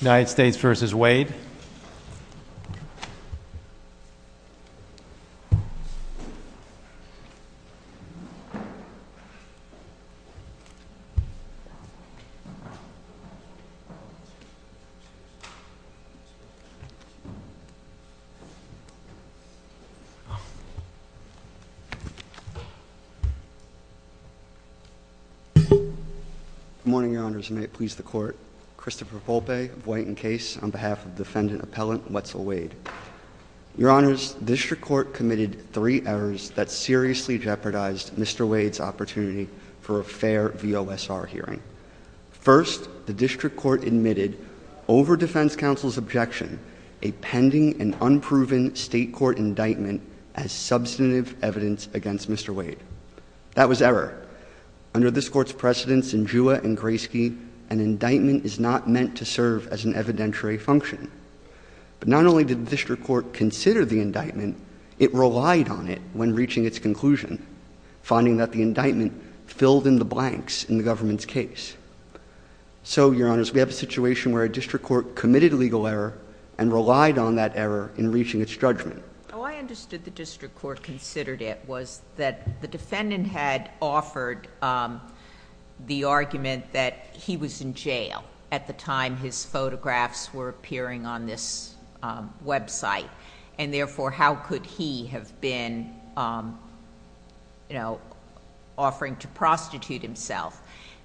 United States v. Wade Good morning, your honors. May it please the court Christopher Volpe of White and Case on behalf of defendant appellant Wetzel Wade. Your honors, district court committed three errors that seriously jeopardized Mr. Wade's opportunity for a fair VOSR hearing. First, the district court admitted, over defense counsel's objection, a pending and unproven state court indictment as substantive evidence against Mr. Wade. That was error. Under this court's precedence in Jua and Grayski, an indictment is not meant to serve as an evidentiary function. But not only did the district court consider the indictment, it relied on it when reaching its conclusion, finding that the indictment filled in the blanks in the government's case. So, your honors, we have a situation where a district court committed a legal error and relied on that error in reaching its judgment. Oh, I understood the district court considered it was that the defendant had offered the argument that he was in jail at the time his photographs were appearing on this website. And therefore, how could he have been offering to prostitute himself?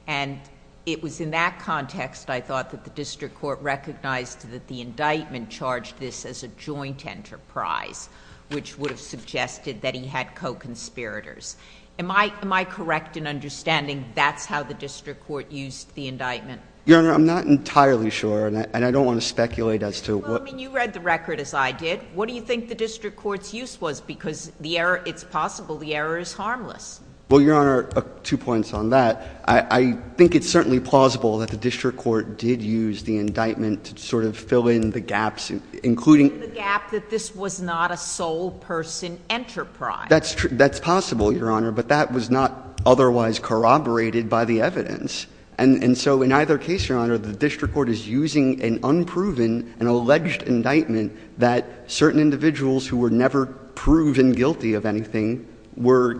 And it was in that context, I thought, that the district court recognized that the indictment charged this as a joint enterprise, which would have suggested that he had co-conspirators. Am I correct in understanding that's how the district court used the indictment? Your honor, I'm not entirely sure, and I don't want to speculate as to what— Well, I mean, you read the record as I did. What do you think the district court's use was? Well, your honor, two points on that. I think it's certainly plausible that the district court did use the indictment to sort of fill in the gaps, including— The gap that this was not a sole person enterprise. That's possible, your honor, but that was not otherwise corroborated by the evidence. And so in either case, your honor, the district court is using an unproven, an alleged indictment that certain individuals who were never proven guilty of anything were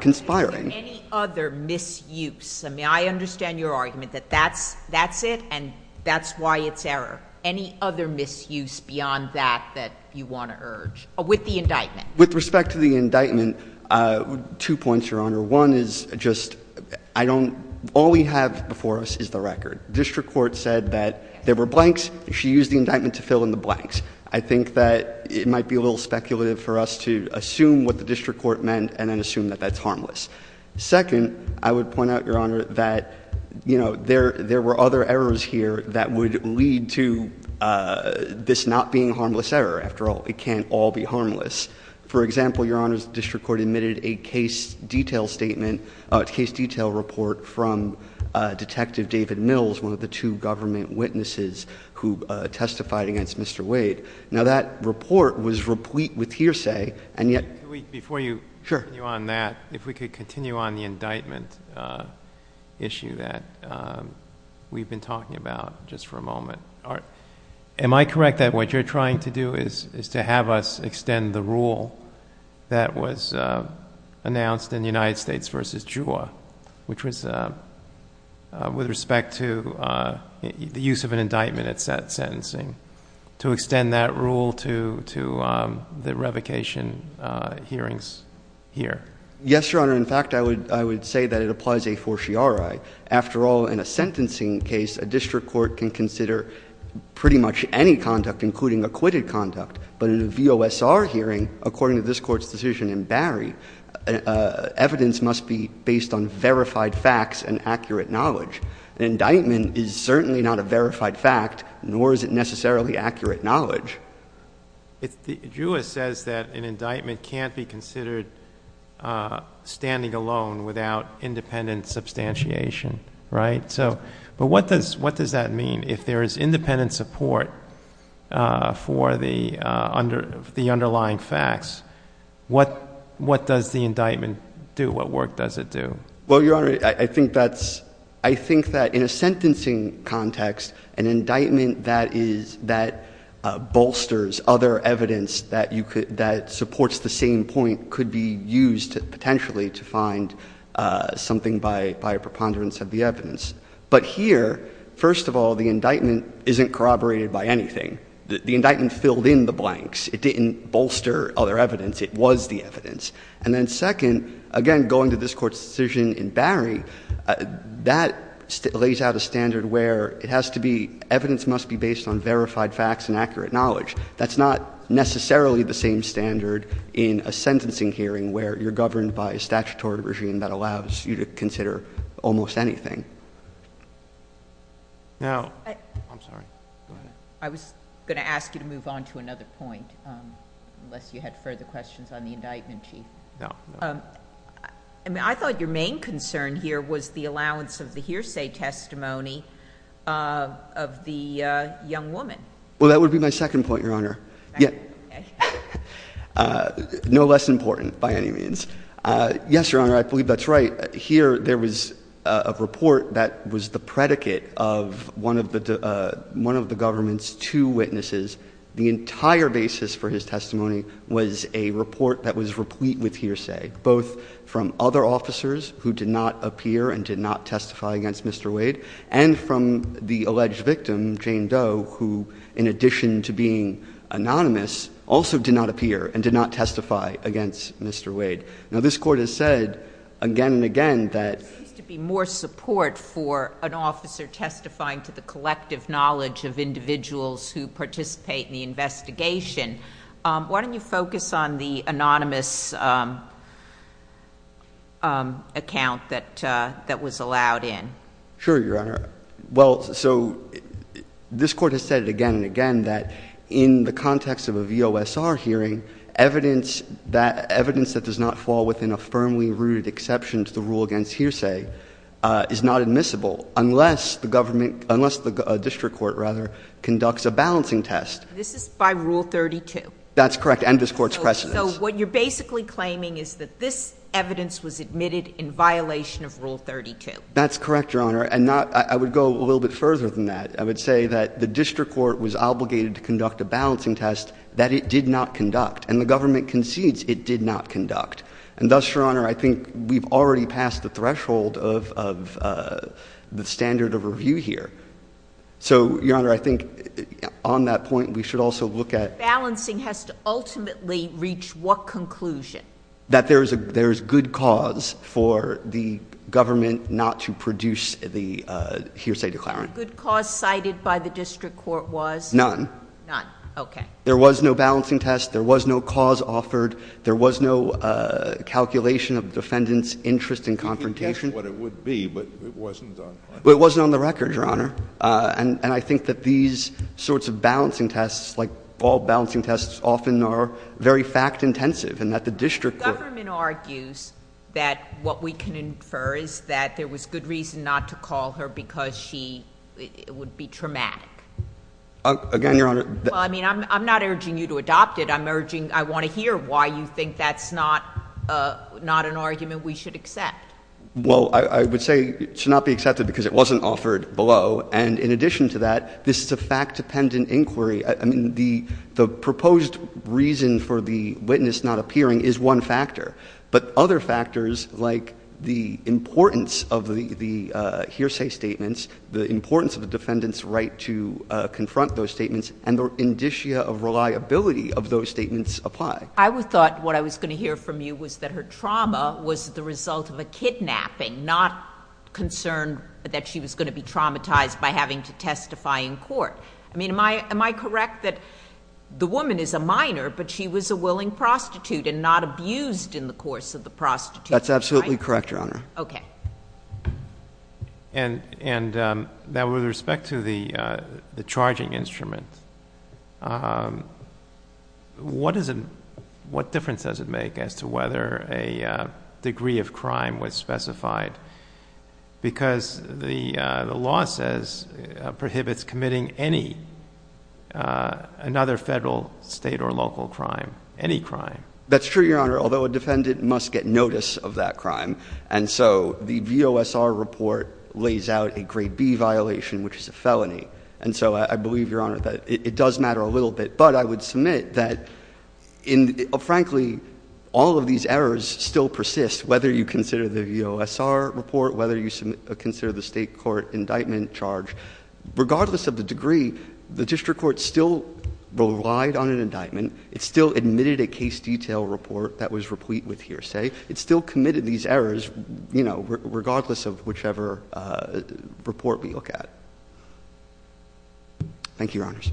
conspiring. Any other misuse? I mean, I understand your argument that that's it, and that's why it's error. Any other misuse beyond that that you want to urge, with the indictment? With respect to the indictment, two points, your honor. One is just I don't—all we have before us is the record. District court said that there were blanks. She used the indictment to fill in the blanks. I think that it might be a little speculative for us to assume what the district court meant and then assume that that's harmless. Second, I would point out, your honor, that, you know, there were other errors here that would lead to this not being a harmless error. After all, it can't all be harmless. For example, your honor, the district court admitted a case detail statement—case detail report from Detective David Mills, one of the two government witnesses who testified against Mr. Wade. Now, that report was replete with hearsay, and yet— Before you continue on that, if we could continue on the indictment issue that we've been talking about just for a moment. Am I correct that what you're trying to do is to have us extend the rule that was announced in United States v. Juha, which was with respect to the use of an indictment at sentencing, to extend that rule to the revocation hearings here? Yes, your honor. In fact, I would say that it applies a fortiori. After all, in a sentencing case, a district court can consider pretty much any conduct, including acquitted conduct. But in a VOSR hearing, according to this court's decision in Barry, evidence must be based on verified facts and accurate knowledge. An indictment is certainly not a verified fact, nor is it necessarily accurate knowledge. Juha says that an indictment can't be considered standing alone without independent substantiation, right? But what does that mean? If there is independent support for the underlying facts, what does the indictment do? What work does it do? Well, your honor, I think that in a sentencing context, an indictment that bolsters other evidence that supports the same point could be used potentially to find something by a preponderance of the evidence. But here, first of all, the indictment isn't corroborated by anything. The indictment filled in the blanks. It didn't bolster other evidence. It was the evidence. And then second, again, going to this court's decision in Barry, that lays out a standard where it has to be, evidence must be based on verified facts and accurate knowledge. That's not necessarily the same standard in a sentencing hearing where you're governed by a statutory regime that allows you to consider almost anything. Now, I'm sorry. Go ahead. I was going to ask you to move on to another point, unless you had further questions on the indictment, Chief. No. I thought your main concern here was the allowance of the hearsay testimony of the young woman. Well, that would be my second point, your honor. No less important, by any means. Yes, your honor, I believe that's right. Here, there was a report that was the predicate of one of the government's two witnesses. The entire basis for his testimony was a report that was replete with hearsay, both from other officers who did not appear and did not testify against Mr. Wade, and from the alleged victim, Jane Doe, who, in addition to being anonymous, also did not appear and did not testify against Mr. Wade. Now, this court has said again and again that— There seems to be more support for an officer testifying to the collective knowledge of individuals who participate in the investigation. Why don't you focus on the anonymous account that was allowed in? Sure, your honor. Well, so this court has said again and again that in the context of a VOSR hearing, evidence that does not fall within a firmly rooted exception to the rule against hearsay is not admissible, unless the district court conducts a balancing test. This is by Rule 32. That's correct, and this court's precedence. So what you're basically claiming is that this evidence was admitted in violation of Rule 32. That's correct, your honor, and I would go a little bit further than that. I would say that the district court was obligated to conduct a balancing test that it did not conduct, and the government concedes it did not conduct. And thus, your honor, I think we've already passed the threshold of the standard of review here. So, your honor, I think on that point, we should also look at— Balancing has to ultimately reach what conclusion? That there is good cause for the government not to produce the hearsay declaring. The good cause cited by the district court was? None. None, okay. There was no balancing test. There was no cause offered. There was no calculation of defendant's interest in confrontation. You can guess what it would be, but it wasn't on the record. It wasn't on the record, your honor, and I think that these sorts of balancing tests, like all balancing tests, often are very fact-intensive, and that the district court— The government argues that what we can infer is that there was good reason not to call her because she would be traumatic. Again, your honor— Well, I mean, I'm not urging you to adopt it. I'm urging — I want to hear why you think that's not an argument we should accept. Well, I would say it should not be accepted because it wasn't offered below, and in addition to that, this is a fact-dependent inquiry. I mean, the proposed reason for the witness not appearing is one factor, but other factors like the importance of the hearsay statements, the importance of the defendant's right to confront those statements, and the indicia of reliability of those statements apply. I thought what I was going to hear from you was that her trauma was the result of a kidnapping, not concern that she was going to be traumatized by having to testify in court. I mean, am I correct that the woman is a minor, but she was a willing prostitute and not abused in the course of the prostitution? That's absolutely correct, your honor. Okay. And now with respect to the charging instrument, what difference does it make as to whether a degree of crime was specified? Because the law says prohibits committing any other federal, state, or local crime, any crime. That's true, your honor, although a defendant must get notice of that crime, and so the VOSR report lays out a grade B violation, which is a felony. And so I believe, your honor, that it does matter a little bit, but I would submit that, frankly, all of these errors still persist, whether you consider the VOSR report, whether you consider the state court indictment charge. Regardless of the degree, the district court still relied on an indictment. It still admitted a case detail report that was replete with hearsay. It still committed these errors, you know, regardless of whichever report we look at. Thank you, your honors.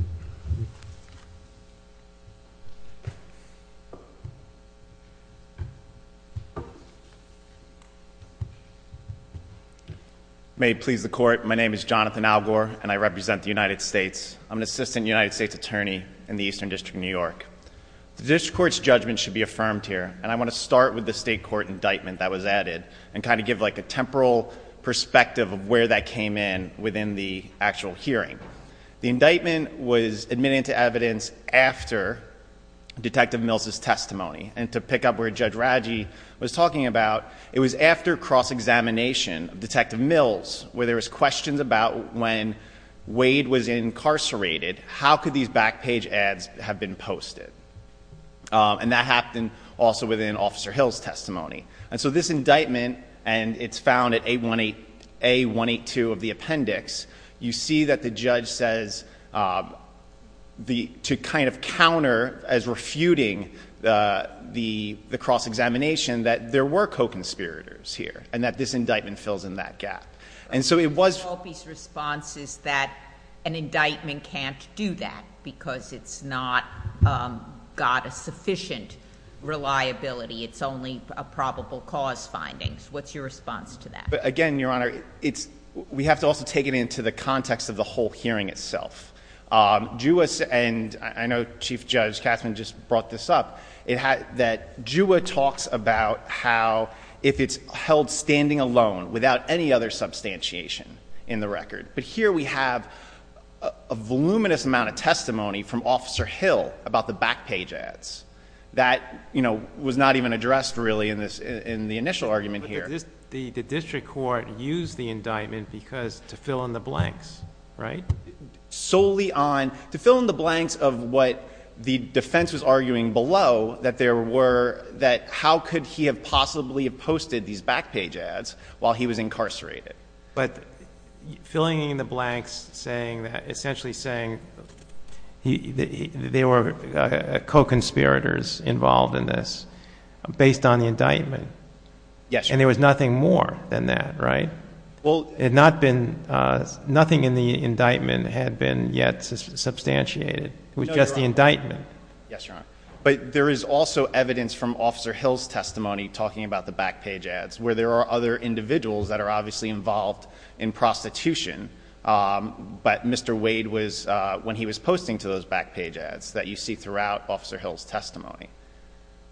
May it please the court. My name is Jonathan Algor, and I represent the United States. I'm an assistant United States attorney in the Eastern District of New York. The district court's judgment should be affirmed here, and I want to start with the state court indictment that was added, and kind of give like a temporal perspective of where that came in within the actual hearing. The indictment was admitted into evidence after Detective Mills' testimony, and to pick up where Judge Raggi was talking about, it was after cross-examination of Detective Mills, where there was questions about when Wade was incarcerated, how could these back page ads have been posted? And that happened also within Officer Hill's testimony. And so this indictment, and it's found at A182 of the appendix, you see that the judge says to kind of counter as refuting the cross-examination that there were co-conspirators here, and that this indictment fills in that gap. And so it was... Albee's response is that an indictment can't do that, because it's not got a sufficient reliability. It's only a probable cause finding. What's your response to that? Again, Your Honor, we have to also take it into the context of the whole hearing itself. And I know Chief Judge Katzmann just brought this up, that JUA talks about how if it's held standing alone without any other substantiation in the record. But here we have a voluminous amount of testimony from Officer Hill about the back page ads that was not even addressed really in the initial argument here. The district court used the indictment because to fill in the blanks, right? Solely on, to fill in the blanks of what the defense was arguing below, that there were, that how could he have possibly posted these back page ads while he was incarcerated. But filling in the blanks, saying that, essentially saying they were co-conspirators involved in this based on the indictment. Yes, Your Honor. And there was nothing more than that, right? It had not been, nothing in the indictment had been yet substantiated. It was just the indictment. Yes, Your Honor. But there is also evidence from Officer Hill's testimony talking about the back page ads where there are other individuals that are obviously involved in prostitution. But Mr. Wade was, when he was posting to those back page ads that you see throughout Officer Hill's testimony.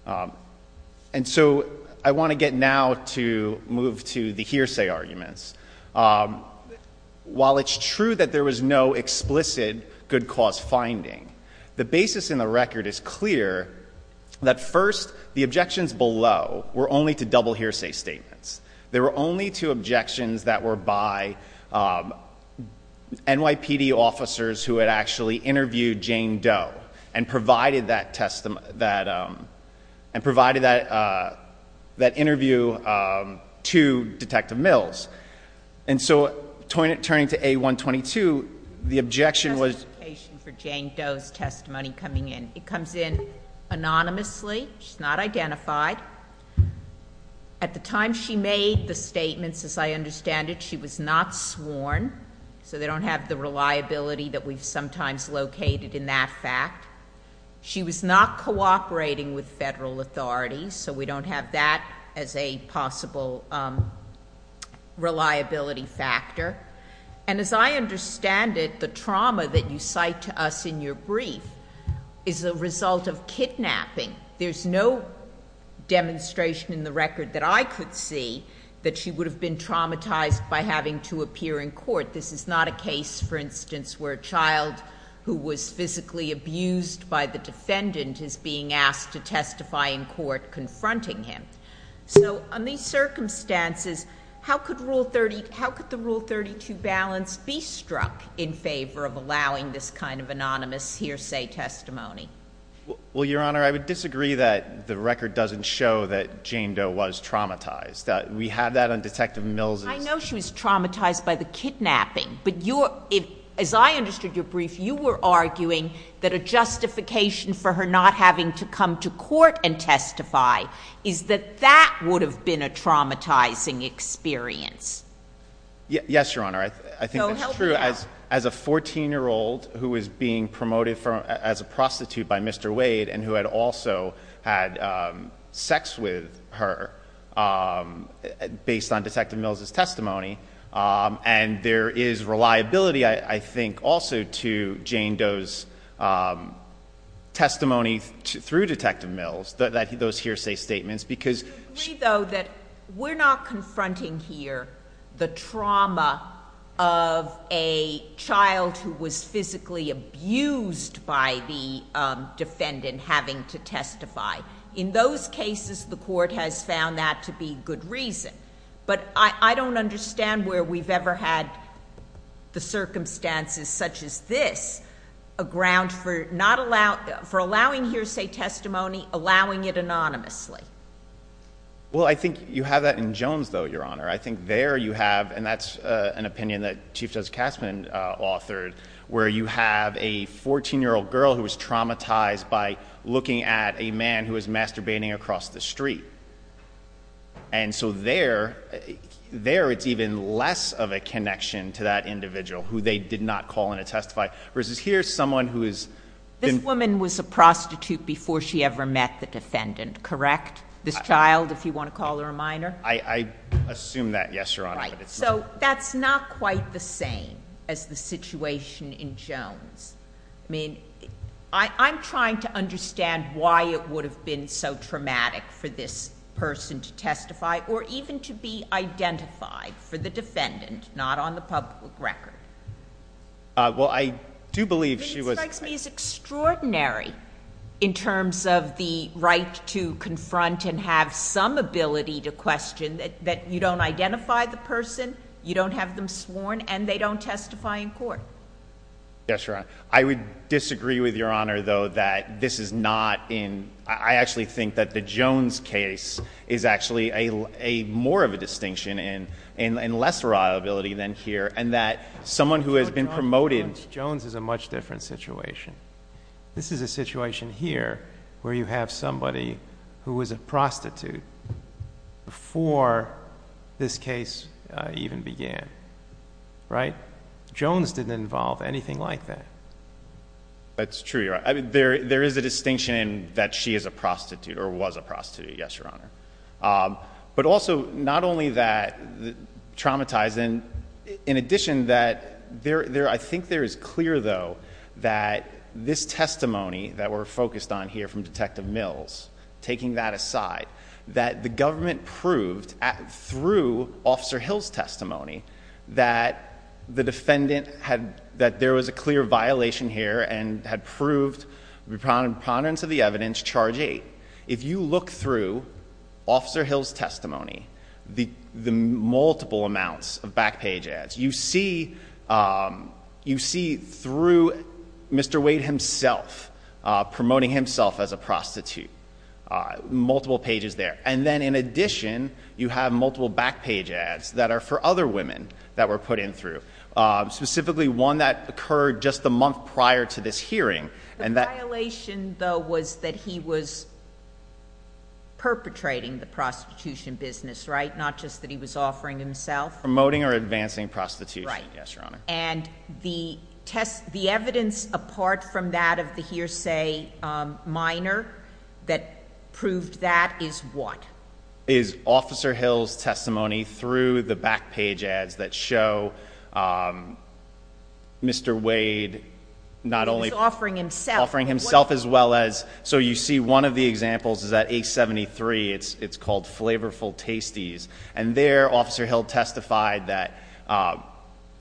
And so I want to get now to move to the hearsay arguments. While it's true that there was no explicit good cause finding, the basis in the record is clear that first, the objections below were only to double hearsay statements. There were only two objections that were by NYPD officers who had actually interviewed Jane Doe and provided that interview to Detective Mills. And so turning to A122, the objection was- There's a justification for Jane Doe's testimony coming in. It comes in anonymously. She's not identified. At the time she made the statements, as I understand it, she was not sworn. So they don't have the reliability that we've sometimes located in that fact. She was not cooperating with federal authorities. So we don't have that as a possible reliability factor. And as I understand it, the trauma that you cite to us in your brief is a result of kidnapping. There's no demonstration in the record that I could see that she would have been traumatized by having to appear in court. This is not a case, for instance, where a child who was physically abused by the defendant is being asked to testify in court confronting him. So on these circumstances, how could the Rule 32 balance be struck in favor of allowing this kind of anonymous hearsay testimony? Well, Your Honor, I would disagree that the record doesn't show that Jane Doe was traumatized. We have that on Detective Mills'- I know she was traumatized by the kidnapping. But as I understood your brief, you were arguing that a justification for her not having to come to court and testify is that that would have been a traumatizing experience. Yes, Your Honor. I think that's true. As a 14-year-old who was being promoted as a prostitute by Mr. Wade and who had also had sex with her based on Detective Mills' testimony, and there is reliability, I think, also to Jane Doe's testimony through Detective Mills, those hearsay statements, because- I would agree, though, that we're not confronting here the trauma of a child who was physically abused by the defendant having to testify. In those cases, the court has found that to be good reason. But I don't understand where we've ever had the circumstances such as this, a ground for not allowing hearsay testimony, allowing it anonymously. Well, I think you have that in Jones, though, Your Honor. I think there you have, and that's an opinion that Chief Judge Kassman authored, where you have a 14-year-old girl who was traumatized by looking at a man who was masturbating across the street. And so there, it's even less of a connection to that individual who they did not call in to testify, versus here's someone who has been- This woman was a prostitute before she ever met the defendant, correct? This child, if you want to call her a minor? I assume that, yes, Your Honor. Right. So that's not quite the same as the situation in Jones. I mean, I'm trying to understand why it would have been so traumatic for this person to testify or even to be identified for the defendant, not on the public record. Well, I do believe she was- I mean, it strikes me as extraordinary in terms of the right to confront and have some ability to question that you don't identify the person, you don't have them sworn, and they don't testify in court. Yes, Your Honor. I would disagree with Your Honor, though, that this is not in- I actually think that the Jones case is actually more of a distinction and less reliability than here, and that someone who has been promoted- Jones is a much different situation. This is a situation here where you have somebody who was a prostitute before this case even began, right? Jones didn't involve anything like that. That's true, Your Honor. There is a distinction in that she is a prostitute or was a prostitute, yes, Your Honor. But also, not only that traumatizing, in addition that there- I think there is clear, though, that this testimony that we're focused on here from Detective Mills, taking that aside, that the government proved through Officer Hill's testimony that the defendant had- that there was a clear violation here and had proved preponderance of the evidence, Charge 8. If you look through Officer Hill's testimony, the multiple amounts of back page ads, you see through Mr. Wade himself promoting himself as a prostitute, multiple pages there. And then, in addition, you have multiple back page ads that are for other women that were put in through, specifically one that occurred just a month prior to this hearing. The violation, though, was that he was perpetrating the prostitution business, right? Not just that he was offering himself. Promoting or advancing prostitution, yes, Your Honor. And the evidence apart from that of the hearsay minor that proved that is what? Is Officer Hill's testimony through the back page ads that show Mr. Wade not only- Offering himself. Offering himself as well as- so you see one of the examples is at 873. It's called Flavorful Tasties. And there, Officer Hill testified that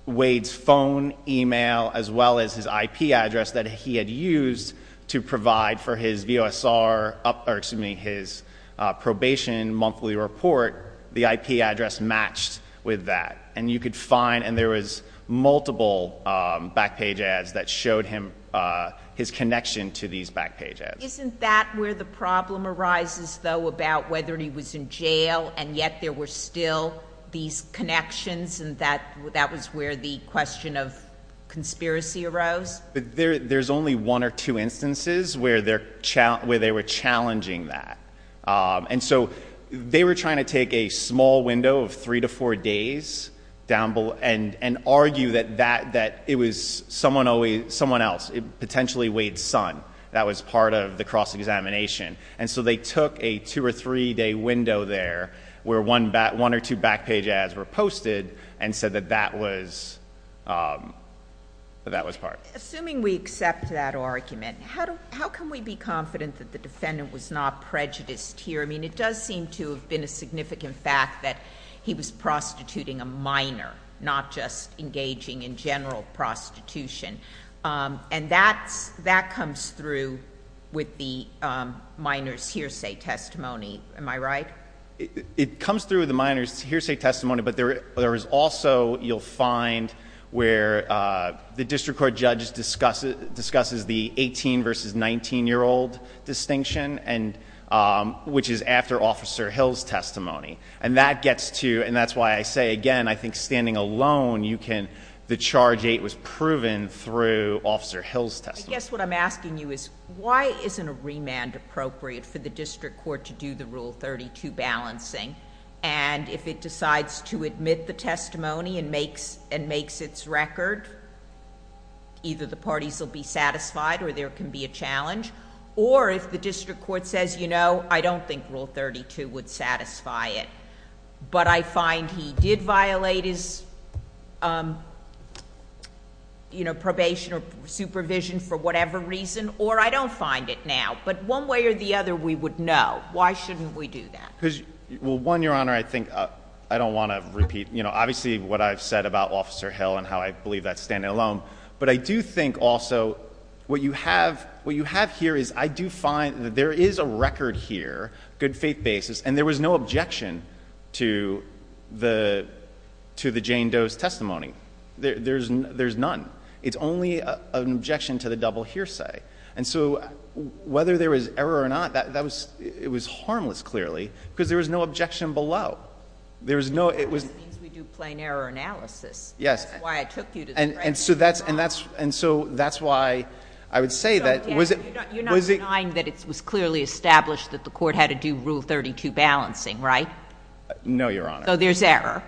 Wade's phone email as well as his IP address that he had used to provide for his VOSR- or, excuse me, his probation monthly report, the IP address matched with that. And you could find- and there was multiple back page ads that showed him- his connection to these back page ads. Isn't that where the problem arises, though, about whether he was in jail and yet there were still these connections and that was where the question of conspiracy arose? There's only one or two instances where they were challenging that. And so they were trying to take a small window of three to four days and argue that it was someone else, potentially Wade's son, that was part of the cross-examination. And so they took a two or three day window there where one or two back page ads were posted and said that that was part. Assuming we accept that argument, how can we be confident that the defendant was not prejudiced here? I mean, it does seem to have been a significant fact that he was prostituting a minor, not just engaging in general prostitution. And that comes through with the minor's hearsay testimony. Am I right? It comes through with the minor's hearsay testimony, but there is also- you'll find where the district court judge discusses the 18 versus 19 year old distinction, which is after Officer Hill's testimony. And that gets to- and that's why I say, again, I think standing alone you can- the charge eight was proven through Officer Hill's testimony. I guess what I'm asking you is why isn't a remand appropriate for the district court to do the Rule 32 balancing? And if it decides to admit the testimony and makes its record, either the parties will be satisfied or there can be a challenge. Or if the district court says, you know, I don't think Rule 32 would satisfy it. But I find he did violate his, you know, probation or supervision for whatever reason. Or I don't find it now. But one way or the other we would know. Why shouldn't we do that? Well, one, Your Honor, I think- I don't want to repeat, you know, obviously what I've said about Officer Hill and how I believe that's standing alone. But I do think also what you have- what you have here is I do find that there is a record here, good faith basis, and there was no objection to the- to the Jane Doe's testimony. There's none. It's only an objection to the double hearsay. And so whether there was error or not, that was- it was harmless, clearly, because there was no objection below. There was no- it was- It means we do plain error analysis. Yes. That's why I took you to the- And so that's- and that's- and so that's why I would say that- You're not denying that it was clearly established that the Court had to do Rule 32 balancing, right? No, Your Honor. So there's error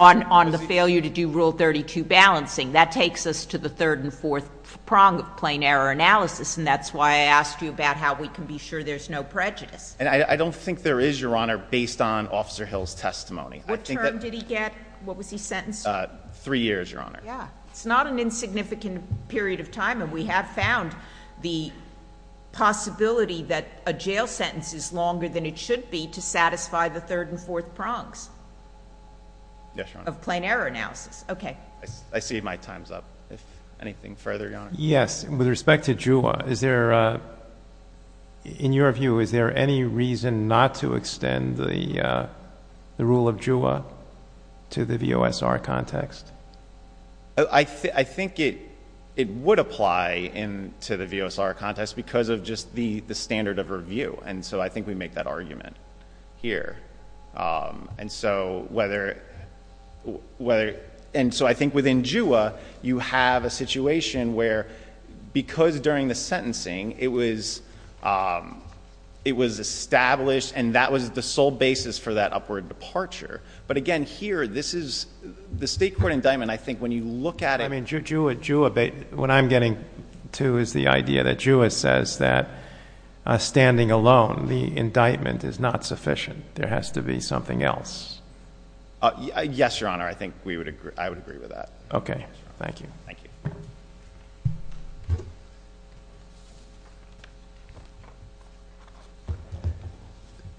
on the failure to do Rule 32 balancing. That takes us to the third and fourth prong of plain error analysis. And that's why I asked you about how we can be sure there's no prejudice. And I don't think there is, Your Honor, based on Officer Hill's testimony. I think that- What term did he get? What was he sentenced to? Three years, Your Honor. Yeah. It's not an insignificant period of time. And we have found the possibility that a jail sentence is longer than it should be to satisfy the third and fourth prongs. Yes, Your Honor. Of plain error analysis. I see my time's up. If anything further, Your Honor. Yes. With respect to JUA, is there- in your view, is there any reason not to extend the rule of JUA to the VOSR context? I think it would apply to the VOSR context because of just the standard of review. And so I think we make that argument here. And so whether- and so I think within JUA, you have a situation where because during the sentencing, it was established and that was the sole basis for that upward departure. But again, here, this is- the state court indictment, I think, when you look at it- I mean, JUA- what I'm getting to is the idea that JUA says that standing alone, the indictment is not sufficient. There has to be something else. Yes, Your Honor. I think we would agree- I would agree with that. Okay. Thank you. Thank you.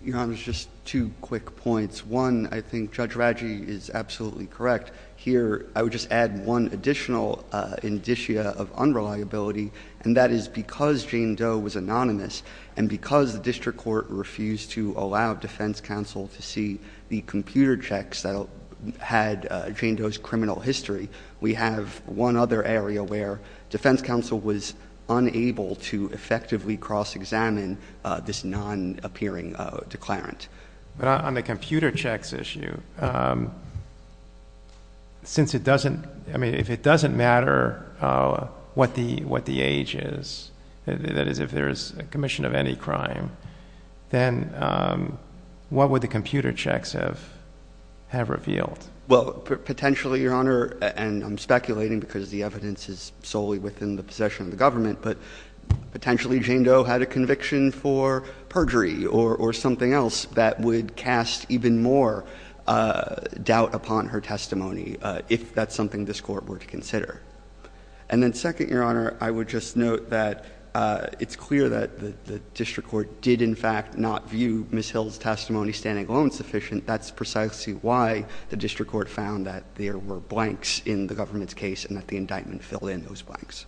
Your Honor, just two quick points. One, I think Judge Radji is absolutely correct. Here, I would just add one additional indicia of unreliability, and that is because Jane Doe was anonymous and because the district court refused to allow defense counsel to see the computer checks that had Jane Doe's criminal history, we have one other area where defense counsel was unable to effectively cross-examine this non-appearing declarant. But on the computer checks issue, since it doesn't- I mean, if it doesn't matter what the age is, that is, if there is a commission of any crime, then what would the computer checks have revealed? Well, potentially, Your Honor, and I'm speculating because the evidence is solely within the possession of the government, but potentially Jane Doe had a conviction for perjury or something else that would cast even more doubt upon her testimony if that's something this court were to consider. And then second, Your Honor, I would just note that it's clear that the district court did, in fact, not view Ms. Hill's testimony standing alone sufficient. That's precisely why the district court found that there were blanks in the government's case and that the indictment filled in those blanks.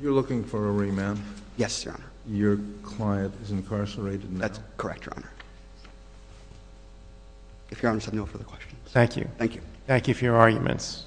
You're looking for a remand? Yes, Your Honor. Your client is incarcerated now? That's correct, Your Honor. If Your Honor has no further questions. Thank you. Thank you. Thank you for your arguments.